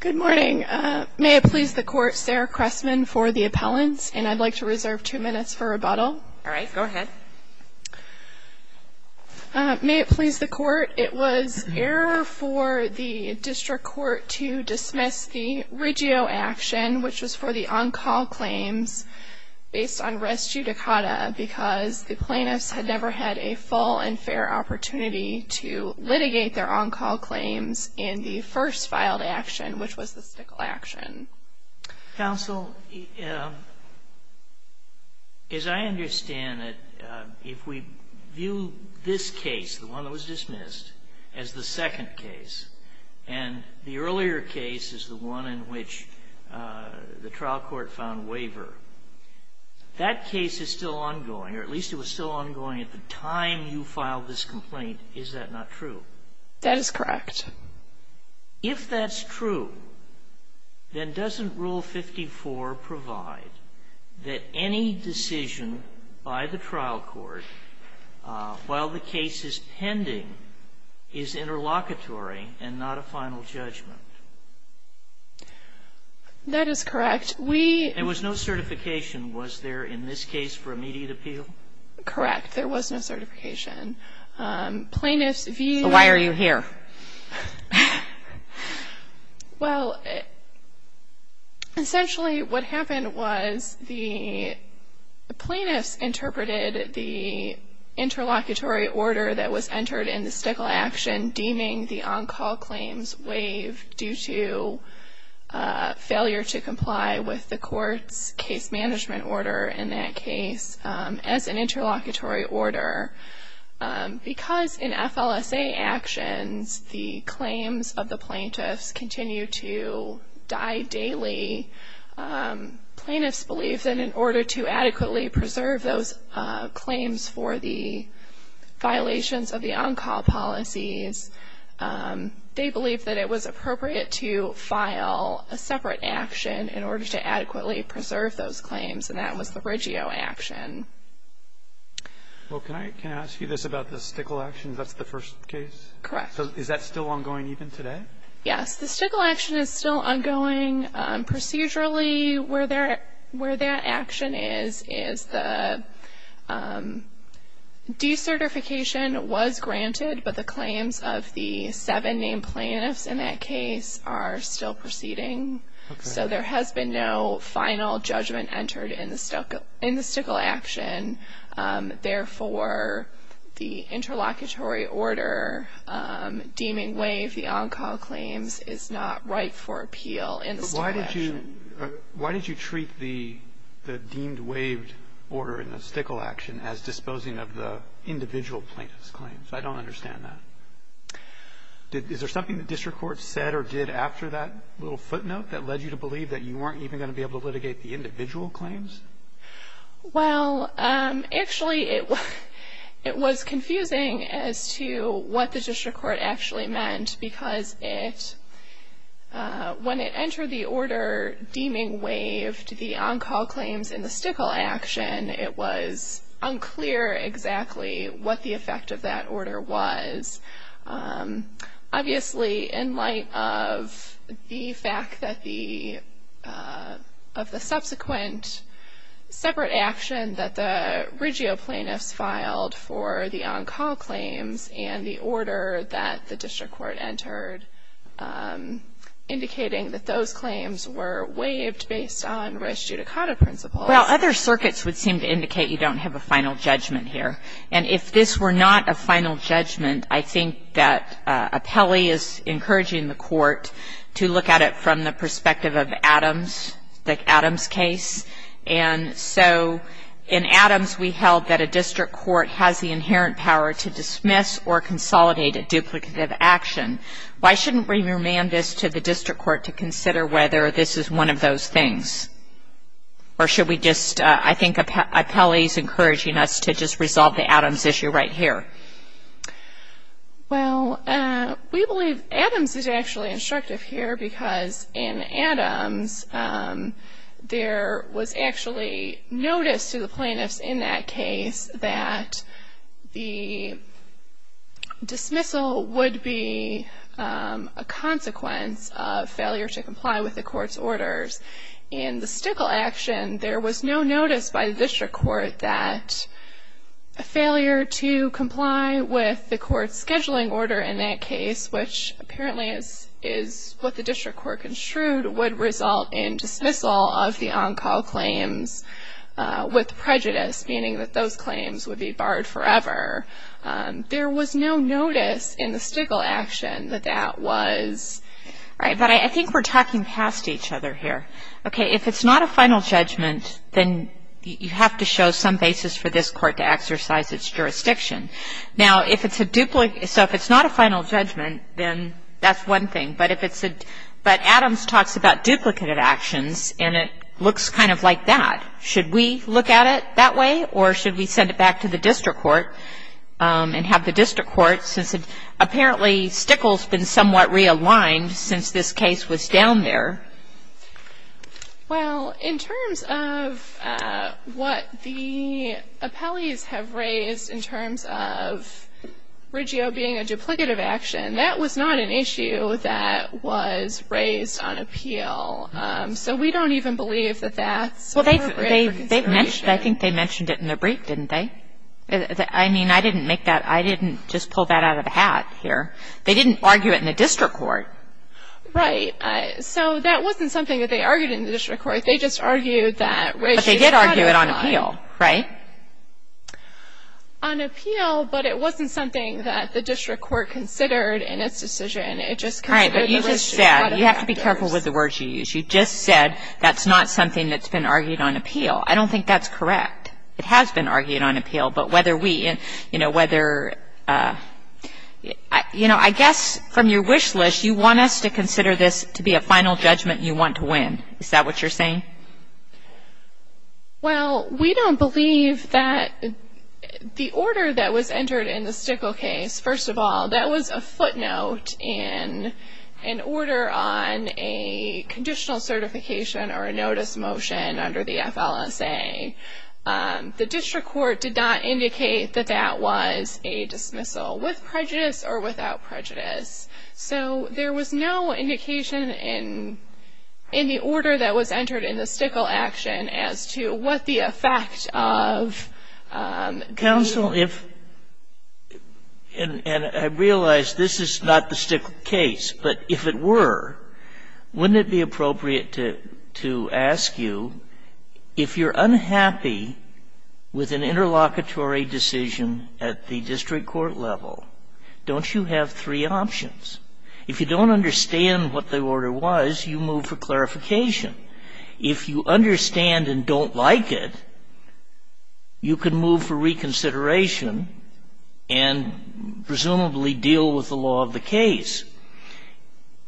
Good morning. May it please the Court, Sarah Cressman for the appellants, and I'd like to reserve two minutes for rebuttal. All right, go ahead. May it please the Court, it was error for the District Court to dismiss the Riggio action, which was for the on-call claims, based on res judicata because the plaintiffs had never had a full and fair opportunity to litigate their on-call claims in the first filed action, which was the stickle action. Counsel, as I understand it, if we view this case, the one that was dismissed, as the second case, and the earlier case is the one in which the trial court found waiver, that case is still ongoing, or at least it was still ongoing at the time you filed this complaint. Is that not true? That is correct. If that's true, then doesn't Rule 54 provide that any decision by the trial court, while the case is pending, is interlocutory and not a final judgment? That is correct. We... There was no certification, was there, in this case, for immediate appeal? Correct. There was no certification. Plaintiffs view... So why are you here? Well, essentially what happened was the plaintiffs interpreted the interlocutory order that was entered in the stickle action deeming the on-call claims waived due to failure to comply with the court's case management order in that case as an interlocutory order. Because in FLSA actions, the claims of the plaintiffs continue to die daily, plaintiffs believe that in order to adequately preserve those claims for the violations of the on-call policies, they believe that it was appropriate to file a separate action in order to adequately preserve those claims, and that was the Riggio action. Well, can I ask you this about the stickle action? That's the first case? Correct. So is that still ongoing even today? Yes. The stickle action is still ongoing. Procedurally, where that action is, is the decertification was granted, but the claims of the seven named plaintiffs in that case are still proceeding. Okay. So there has been no final judgment entered in the stickle action. Therefore, the interlocutory order deeming waived the on-call claims is not right for appeal in the stickle action. But why did you treat the deemed waived order in the stickle action as disposing of the individual plaintiffs' claims? I don't understand that. Is there something the district court said or did after that little footnote that led you to believe that you weren't even going to be able to litigate the individual claims? Well, actually, it was confusing as to what the district court actually meant, because when it entered the order deeming waived the on-call claims in the stickle action, it was unclear exactly what the effect of that order was. Obviously, in light of the fact that the subsequent separate action that the regio plaintiffs filed for the on-call claims and the order that the district court entered indicating that those claims were waived based on res judicata principles. Well, other circuits would seem to indicate you don't have a final judgment here. And if this were not a final judgment, I think that appellee is encouraging the court to look at it from the perspective of Adams, the Adams case. And so in Adams, we held that a district court has the inherent power to dismiss or consolidate a duplicative action. Why shouldn't we remand this to the district court to consider whether this is one of those things? Or should we just, I think appellee is encouraging us to just resolve the Adams issue right here. Well, we believe Adams is actually instructive here because in Adams, there was actually notice to the plaintiffs in that case that the dismissal would be a consequence of failure to comply with the court's orders in the stickle action. There was no notice by the district court that a failure to comply with the court's scheduling order in that case, which apparently is is what the district court construed would result in dismissal of the on-call claims with prejudice, meaning that those claims would be barred forever. There was no notice in the stickle action that that was right. But I think we're talking past each other here. Okay. If it's not a final judgment, then you have to show some basis for this court to exercise its jurisdiction. Now, if it's a duplicate, so if it's not a final judgment, then that's one thing. But Adams talks about duplicated actions, and it looks kind of like that. Should we look at it that way, or should we send it back to the district court and have the district court, since apparently stickle's been somewhat realigned since this case was down there? Well, in terms of what the appellees have raised in terms of Riggio being a duplicative action, that was not an issue that was raised on appeal. So we don't even believe that that's appropriate for consideration. Well, I think they mentioned it in their brief, didn't they? I mean, I didn't make that – I didn't just pull that out of the hat here. They didn't argue it in the district court. Right. So that wasn't something that they argued in the district court. They just argued that Riggio's codified. But they did argue it on appeal, right? On appeal, but it wasn't something that the district court considered in its decision. It just considered the Riggio's codified. All right, but you just said – you have to be careful with the words you use. You just said that's not something that's been argued on appeal. I don't think that's correct. It has been argued on appeal, but whether we – you know, whether – you know, I guess from your wish list you want us to consider this to be a final judgment you want to win. Is that what you're saying? Well, we don't believe that the order that was entered in the Stickel case, first of all, that was a footnote in an order on a conditional certification or a notice motion under the FLSA. The district court did not indicate that that was a dismissal, with prejudice or without prejudice. So there was no indication in the order that was entered in the Stickel action as to what the effect of the – And I realize this is not the Stickel case, but if it were, wouldn't it be appropriate to ask you, if you're unhappy with an interlocutory decision at the district court level, don't you have three options? If you don't understand what the order was, you move for clarification. If you understand and don't like it, you can move for reconsideration and presumably deal with the law of the case.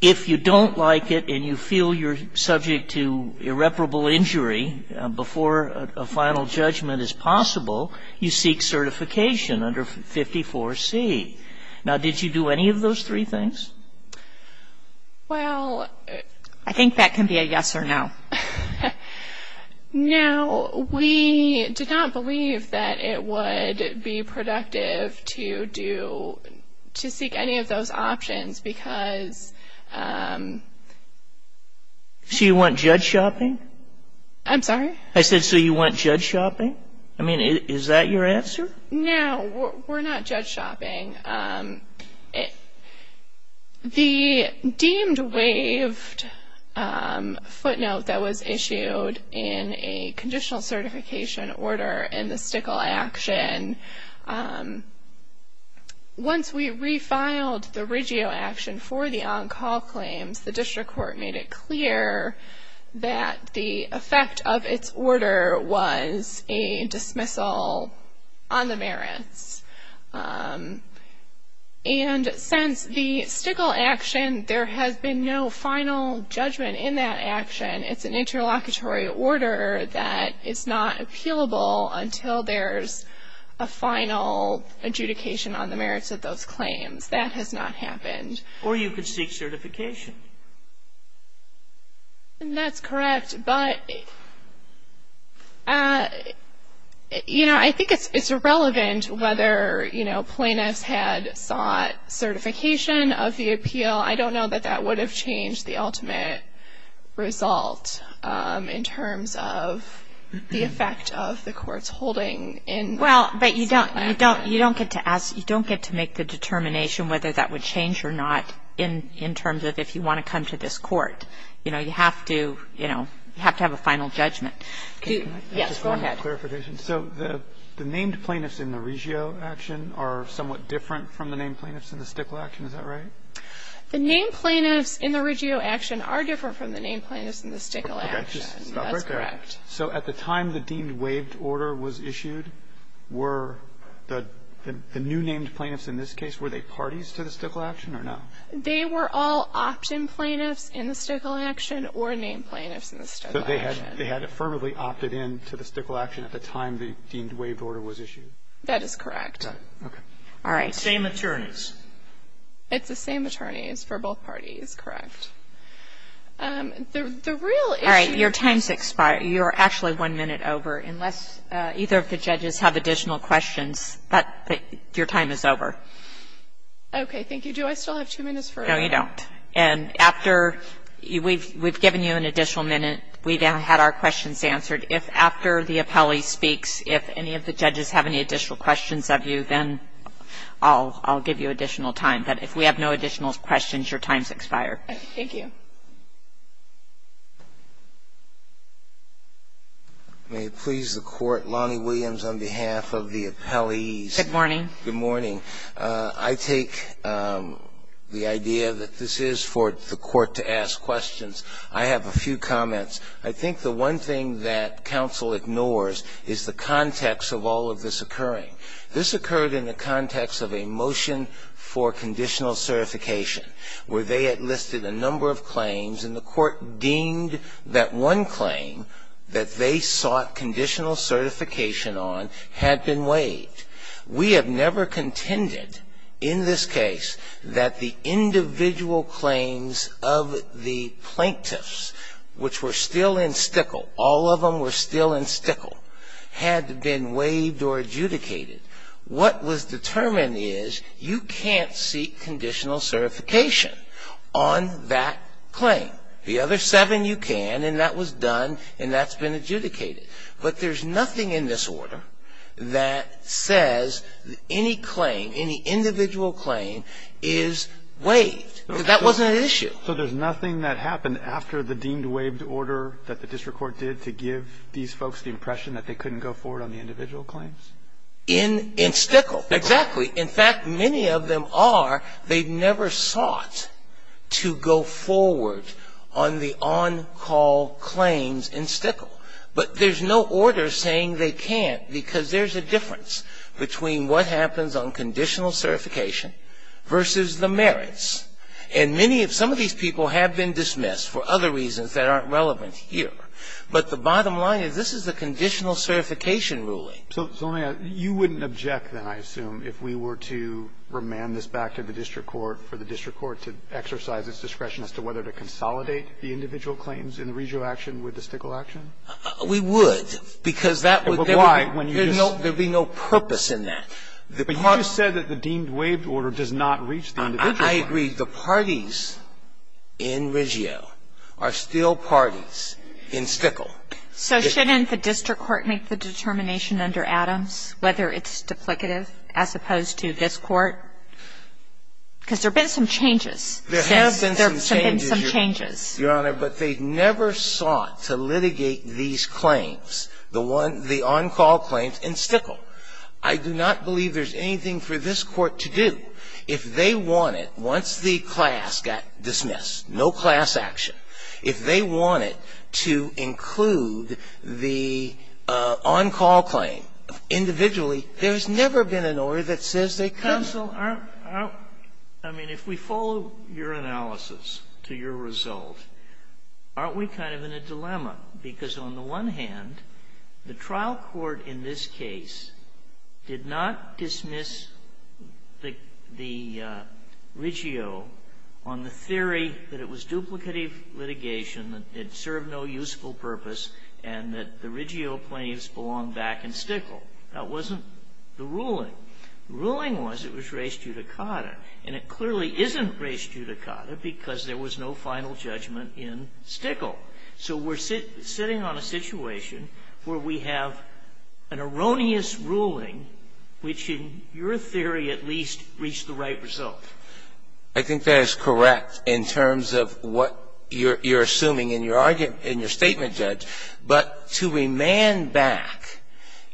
If you don't like it and you feel you're subject to irreparable injury before a final judgment is possible, you seek certification under 54C. Now, did you do any of those three things? Well – I think that can be a yes or no. No, we did not believe that it would be productive to do – to seek any of those options because – So you want judge shopping? I'm sorry? I said, so you want judge shopping? I mean, is that your answer? No, we're not judge shopping. The deemed waived footnote that was issued in a conditional certification order in the Stickel action, once we refiled the Regio action for the on-call claims, the district court made it clear that the effect of its order was a dismissal on the merits. And since the Stickel action, there has been no final judgment in that action. It's an interlocutory order that is not appealable until there's a final adjudication on the merits of those claims. That has not happened. Or you could seek certification. That's correct, but, you know, I think it's irrelevant whether, you know, plaintiffs had sought certification of the appeal. I don't know that that would have changed the ultimate result in terms of the effect of the court's holding. Well, but you don't get to ask, you don't get to make the determination whether that would change or not in terms of if you want to come to this court. You know, you have to, you know, you have to have a final judgment. Yes, go ahead. So the named plaintiffs in the Regio action are somewhat different from the named plaintiffs in the Stickel action, is that right? The named plaintiffs in the Regio action are different from the named plaintiffs in the Stickel action. That's correct. So at the time the deemed waived order was issued, were the new named plaintiffs in this case, were they parties to the Stickel action or no? They were all opt-in plaintiffs in the Stickel action or named plaintiffs in the Stickel action. So they had affirmatively opted in to the Stickel action at the time the deemed waived order was issued. That is correct. Okay. All right. Same attorneys. It's the same attorneys for both parties, correct. All right. Your time's expired. You're actually one minute over. Unless either of the judges have additional questions, your time is over. Okay. Thank you. Do I still have two minutes for a break? No, you don't. And after we've given you an additional minute, we've had our questions answered. If after the appellee speaks, if any of the judges have any additional questions of you, then I'll give you additional time. But if we have no additional questions, your time's expired. Thank you. May it please the Court, Lonnie Williams on behalf of the appellees. Good morning. Good morning. I take the idea that this is for the Court to ask questions. I have a few comments. I think the one thing that counsel ignores is the context of all of this occurring. This occurred in the context of a motion for conditional certification where they had listed a number of claims and the Court deemed that one claim that they sought conditional certification on had been waived. We have never contended in this case that the individual claims of the plaintiffs, which were still in stickle, all of them were still in stickle, had been waived or adjudicated. What was determined is you can't seek conditional certification on that claim. The other seven you can, and that was done, and that's been adjudicated. But there's nothing in this order that says any claim, any individual claim is waived. That wasn't an issue. So there's nothing that happened after the deemed waived order that the district court did to give these folks the impression that they couldn't go forward on the individual claims? In stickle. Exactly. In fact, many of them are. They never sought to go forward on the on-call claims in stickle. But there's no order saying they can't, because there's a difference between what happens on conditional certification versus the merits. And many of some of these people have been dismissed for other reasons that aren't relevant here. But the bottom line is this is a conditional certification ruling. So, Zonia, you wouldn't object, then, I assume, if we were to remand this back to the district court for the district court to exercise its discretion as to whether to consolidate the individual claims in the Regio action with the stickle action? We would, because that would be no purpose in that. But you just said that the deemed waived order does not reach the individual claim. I agree. The parties in Regio are still parties in stickle. So shouldn't the district court make the determination under Adams whether it's duplicative as opposed to this Court? Because there have been some changes. There have been some changes, Your Honor. But they never sought to litigate these claims, the on-call claims in stickle. I do not believe there's anything for this Court to do if they wanted, once the class got dismissed, no class action. If they wanted to include the on-call claim individually, there's never been an order that says they can't. Counsel, I mean, if we follow your analysis to your result, aren't we kind of in a dilemma? Because on the one hand, the trial court in this case did not dismiss the Regio on the theory that it was duplicative litigation, that it served no useful purpose, and that the Regio claims belonged back in stickle. That wasn't the ruling. The ruling was it was res judicata. And it clearly isn't res judicata because there was no final judgment in stickle. So we're sitting on a situation where we have an erroneous ruling which in your theory at least reached the right result. I think that is correct in terms of what you're assuming in your argument, in your statement, Judge. But to remand back,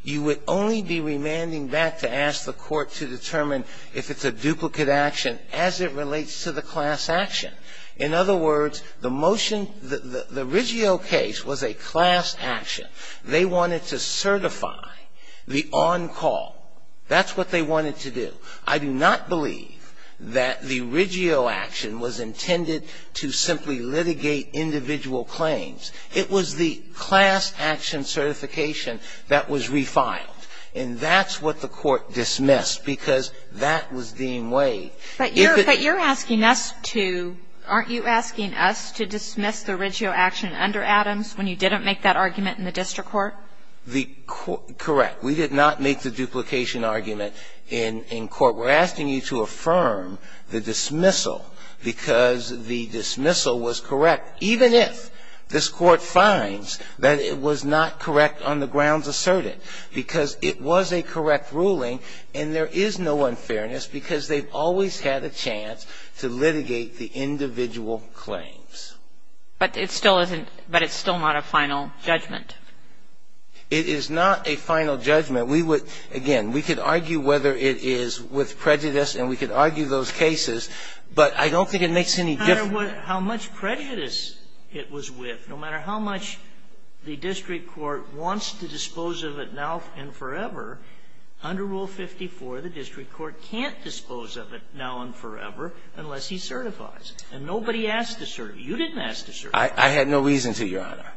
you would only be remanding back to ask the Court to determine if it's a duplicate action as it relates to the class action. In other words, the motion, the Regio case was a class action. They wanted to certify the on-call. That's what they wanted to do. I do not believe that the Regio action was intended to simply litigate individual claims. It was the class action certification that was re-filed. And that's what the Court dismissed because that was deemed way. If it was. Kagan. But you're asking us to, aren't you asking us to dismiss the Regio action under Adams when you didn't make that argument in the district court? Correct. We did not make the duplication argument in court. We're asking you to affirm the dismissal because the dismissal was correct, even if this Court finds that it was not correct on the grounds asserted, because it was a correct ruling and there is no unfairness because they've always had a chance to litigate the individual claims. But it still isn't, but it's still not a final judgment. It is not a final judgment. We would, again, we could argue whether it is with prejudice and we could argue those cases, but I don't think it makes any difference. It doesn't matter how much prejudice it was with. No matter how much the district court wants to dispose of it now and forever, under Rule 54 the district court can't dispose of it now and forever unless he certifies. And nobody asked to certify. I had no reason to, Your Honor.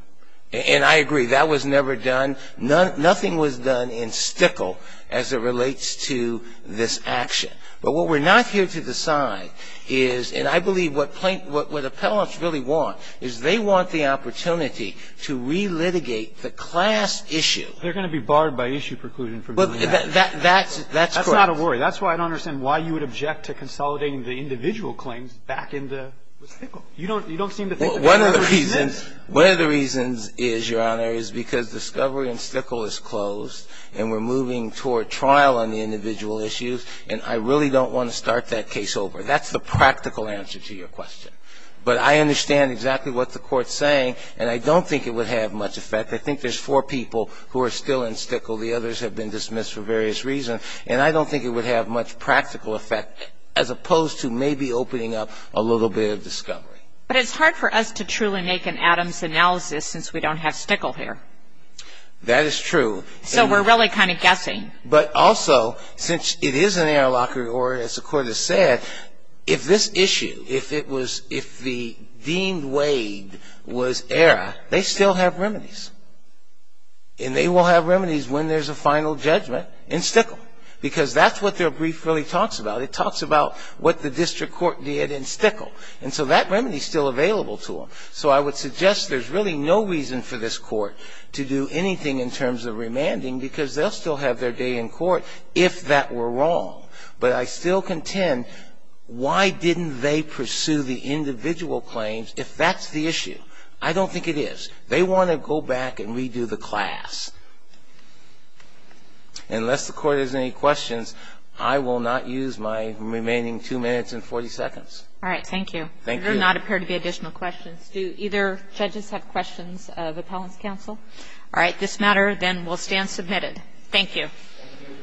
And I agree. That was never done. Nothing was done in Stickle as it relates to this action. But what we're not here to decide is, and I believe what plaintiffs, what appellants really want is they want the opportunity to relitigate the class issue. They're going to be barred by issue preclusion from doing that. That's correct. That's not a worry. That's why I don't understand why you would object to consolidating the individual claims back into Stickle. You don't seem to think that that's a reason. One of the reasons is, Your Honor, is because discovery in Stickle is closed and we're moving toward trial on the individual issues, and I really don't want to start that case over. That's the practical answer to your question. But I understand exactly what the Court's saying, and I don't think it would have much effect. I think there's four people who are still in Stickle. The others have been dismissed for various reasons. And I don't think it would have much practical effect as opposed to maybe opening up a little bit of discovery. But it's hard for us to truly make an Adams analysis since we don't have Stickle here. That is true. So we're really kind of guessing. But also, since it is an error locker, or as the Court has said, if this issue, if it was, if the deemed weighed was error, they still have remedies. And they will have remedies when there's a final judgment in Stickle, because that's what their brief really talks about. It talks about what the district court did in Stickle. And so that remedy is still available to them. So I would suggest there's really no reason for this Court to do anything in terms of remanding, because they'll still have their day in court if that were wrong. But I still contend, why didn't they pursue the individual claims if that's the issue? I don't think it is. They want to go back and redo the class. Unless the Court has any questions, I will not use my remaining two minutes and 40 seconds. All right. Thank you. Thank you. There do not appear to be additional questions. Do either judges have questions of Appellant's counsel? All right. This matter then will stand submitted. Thank you. Thank you.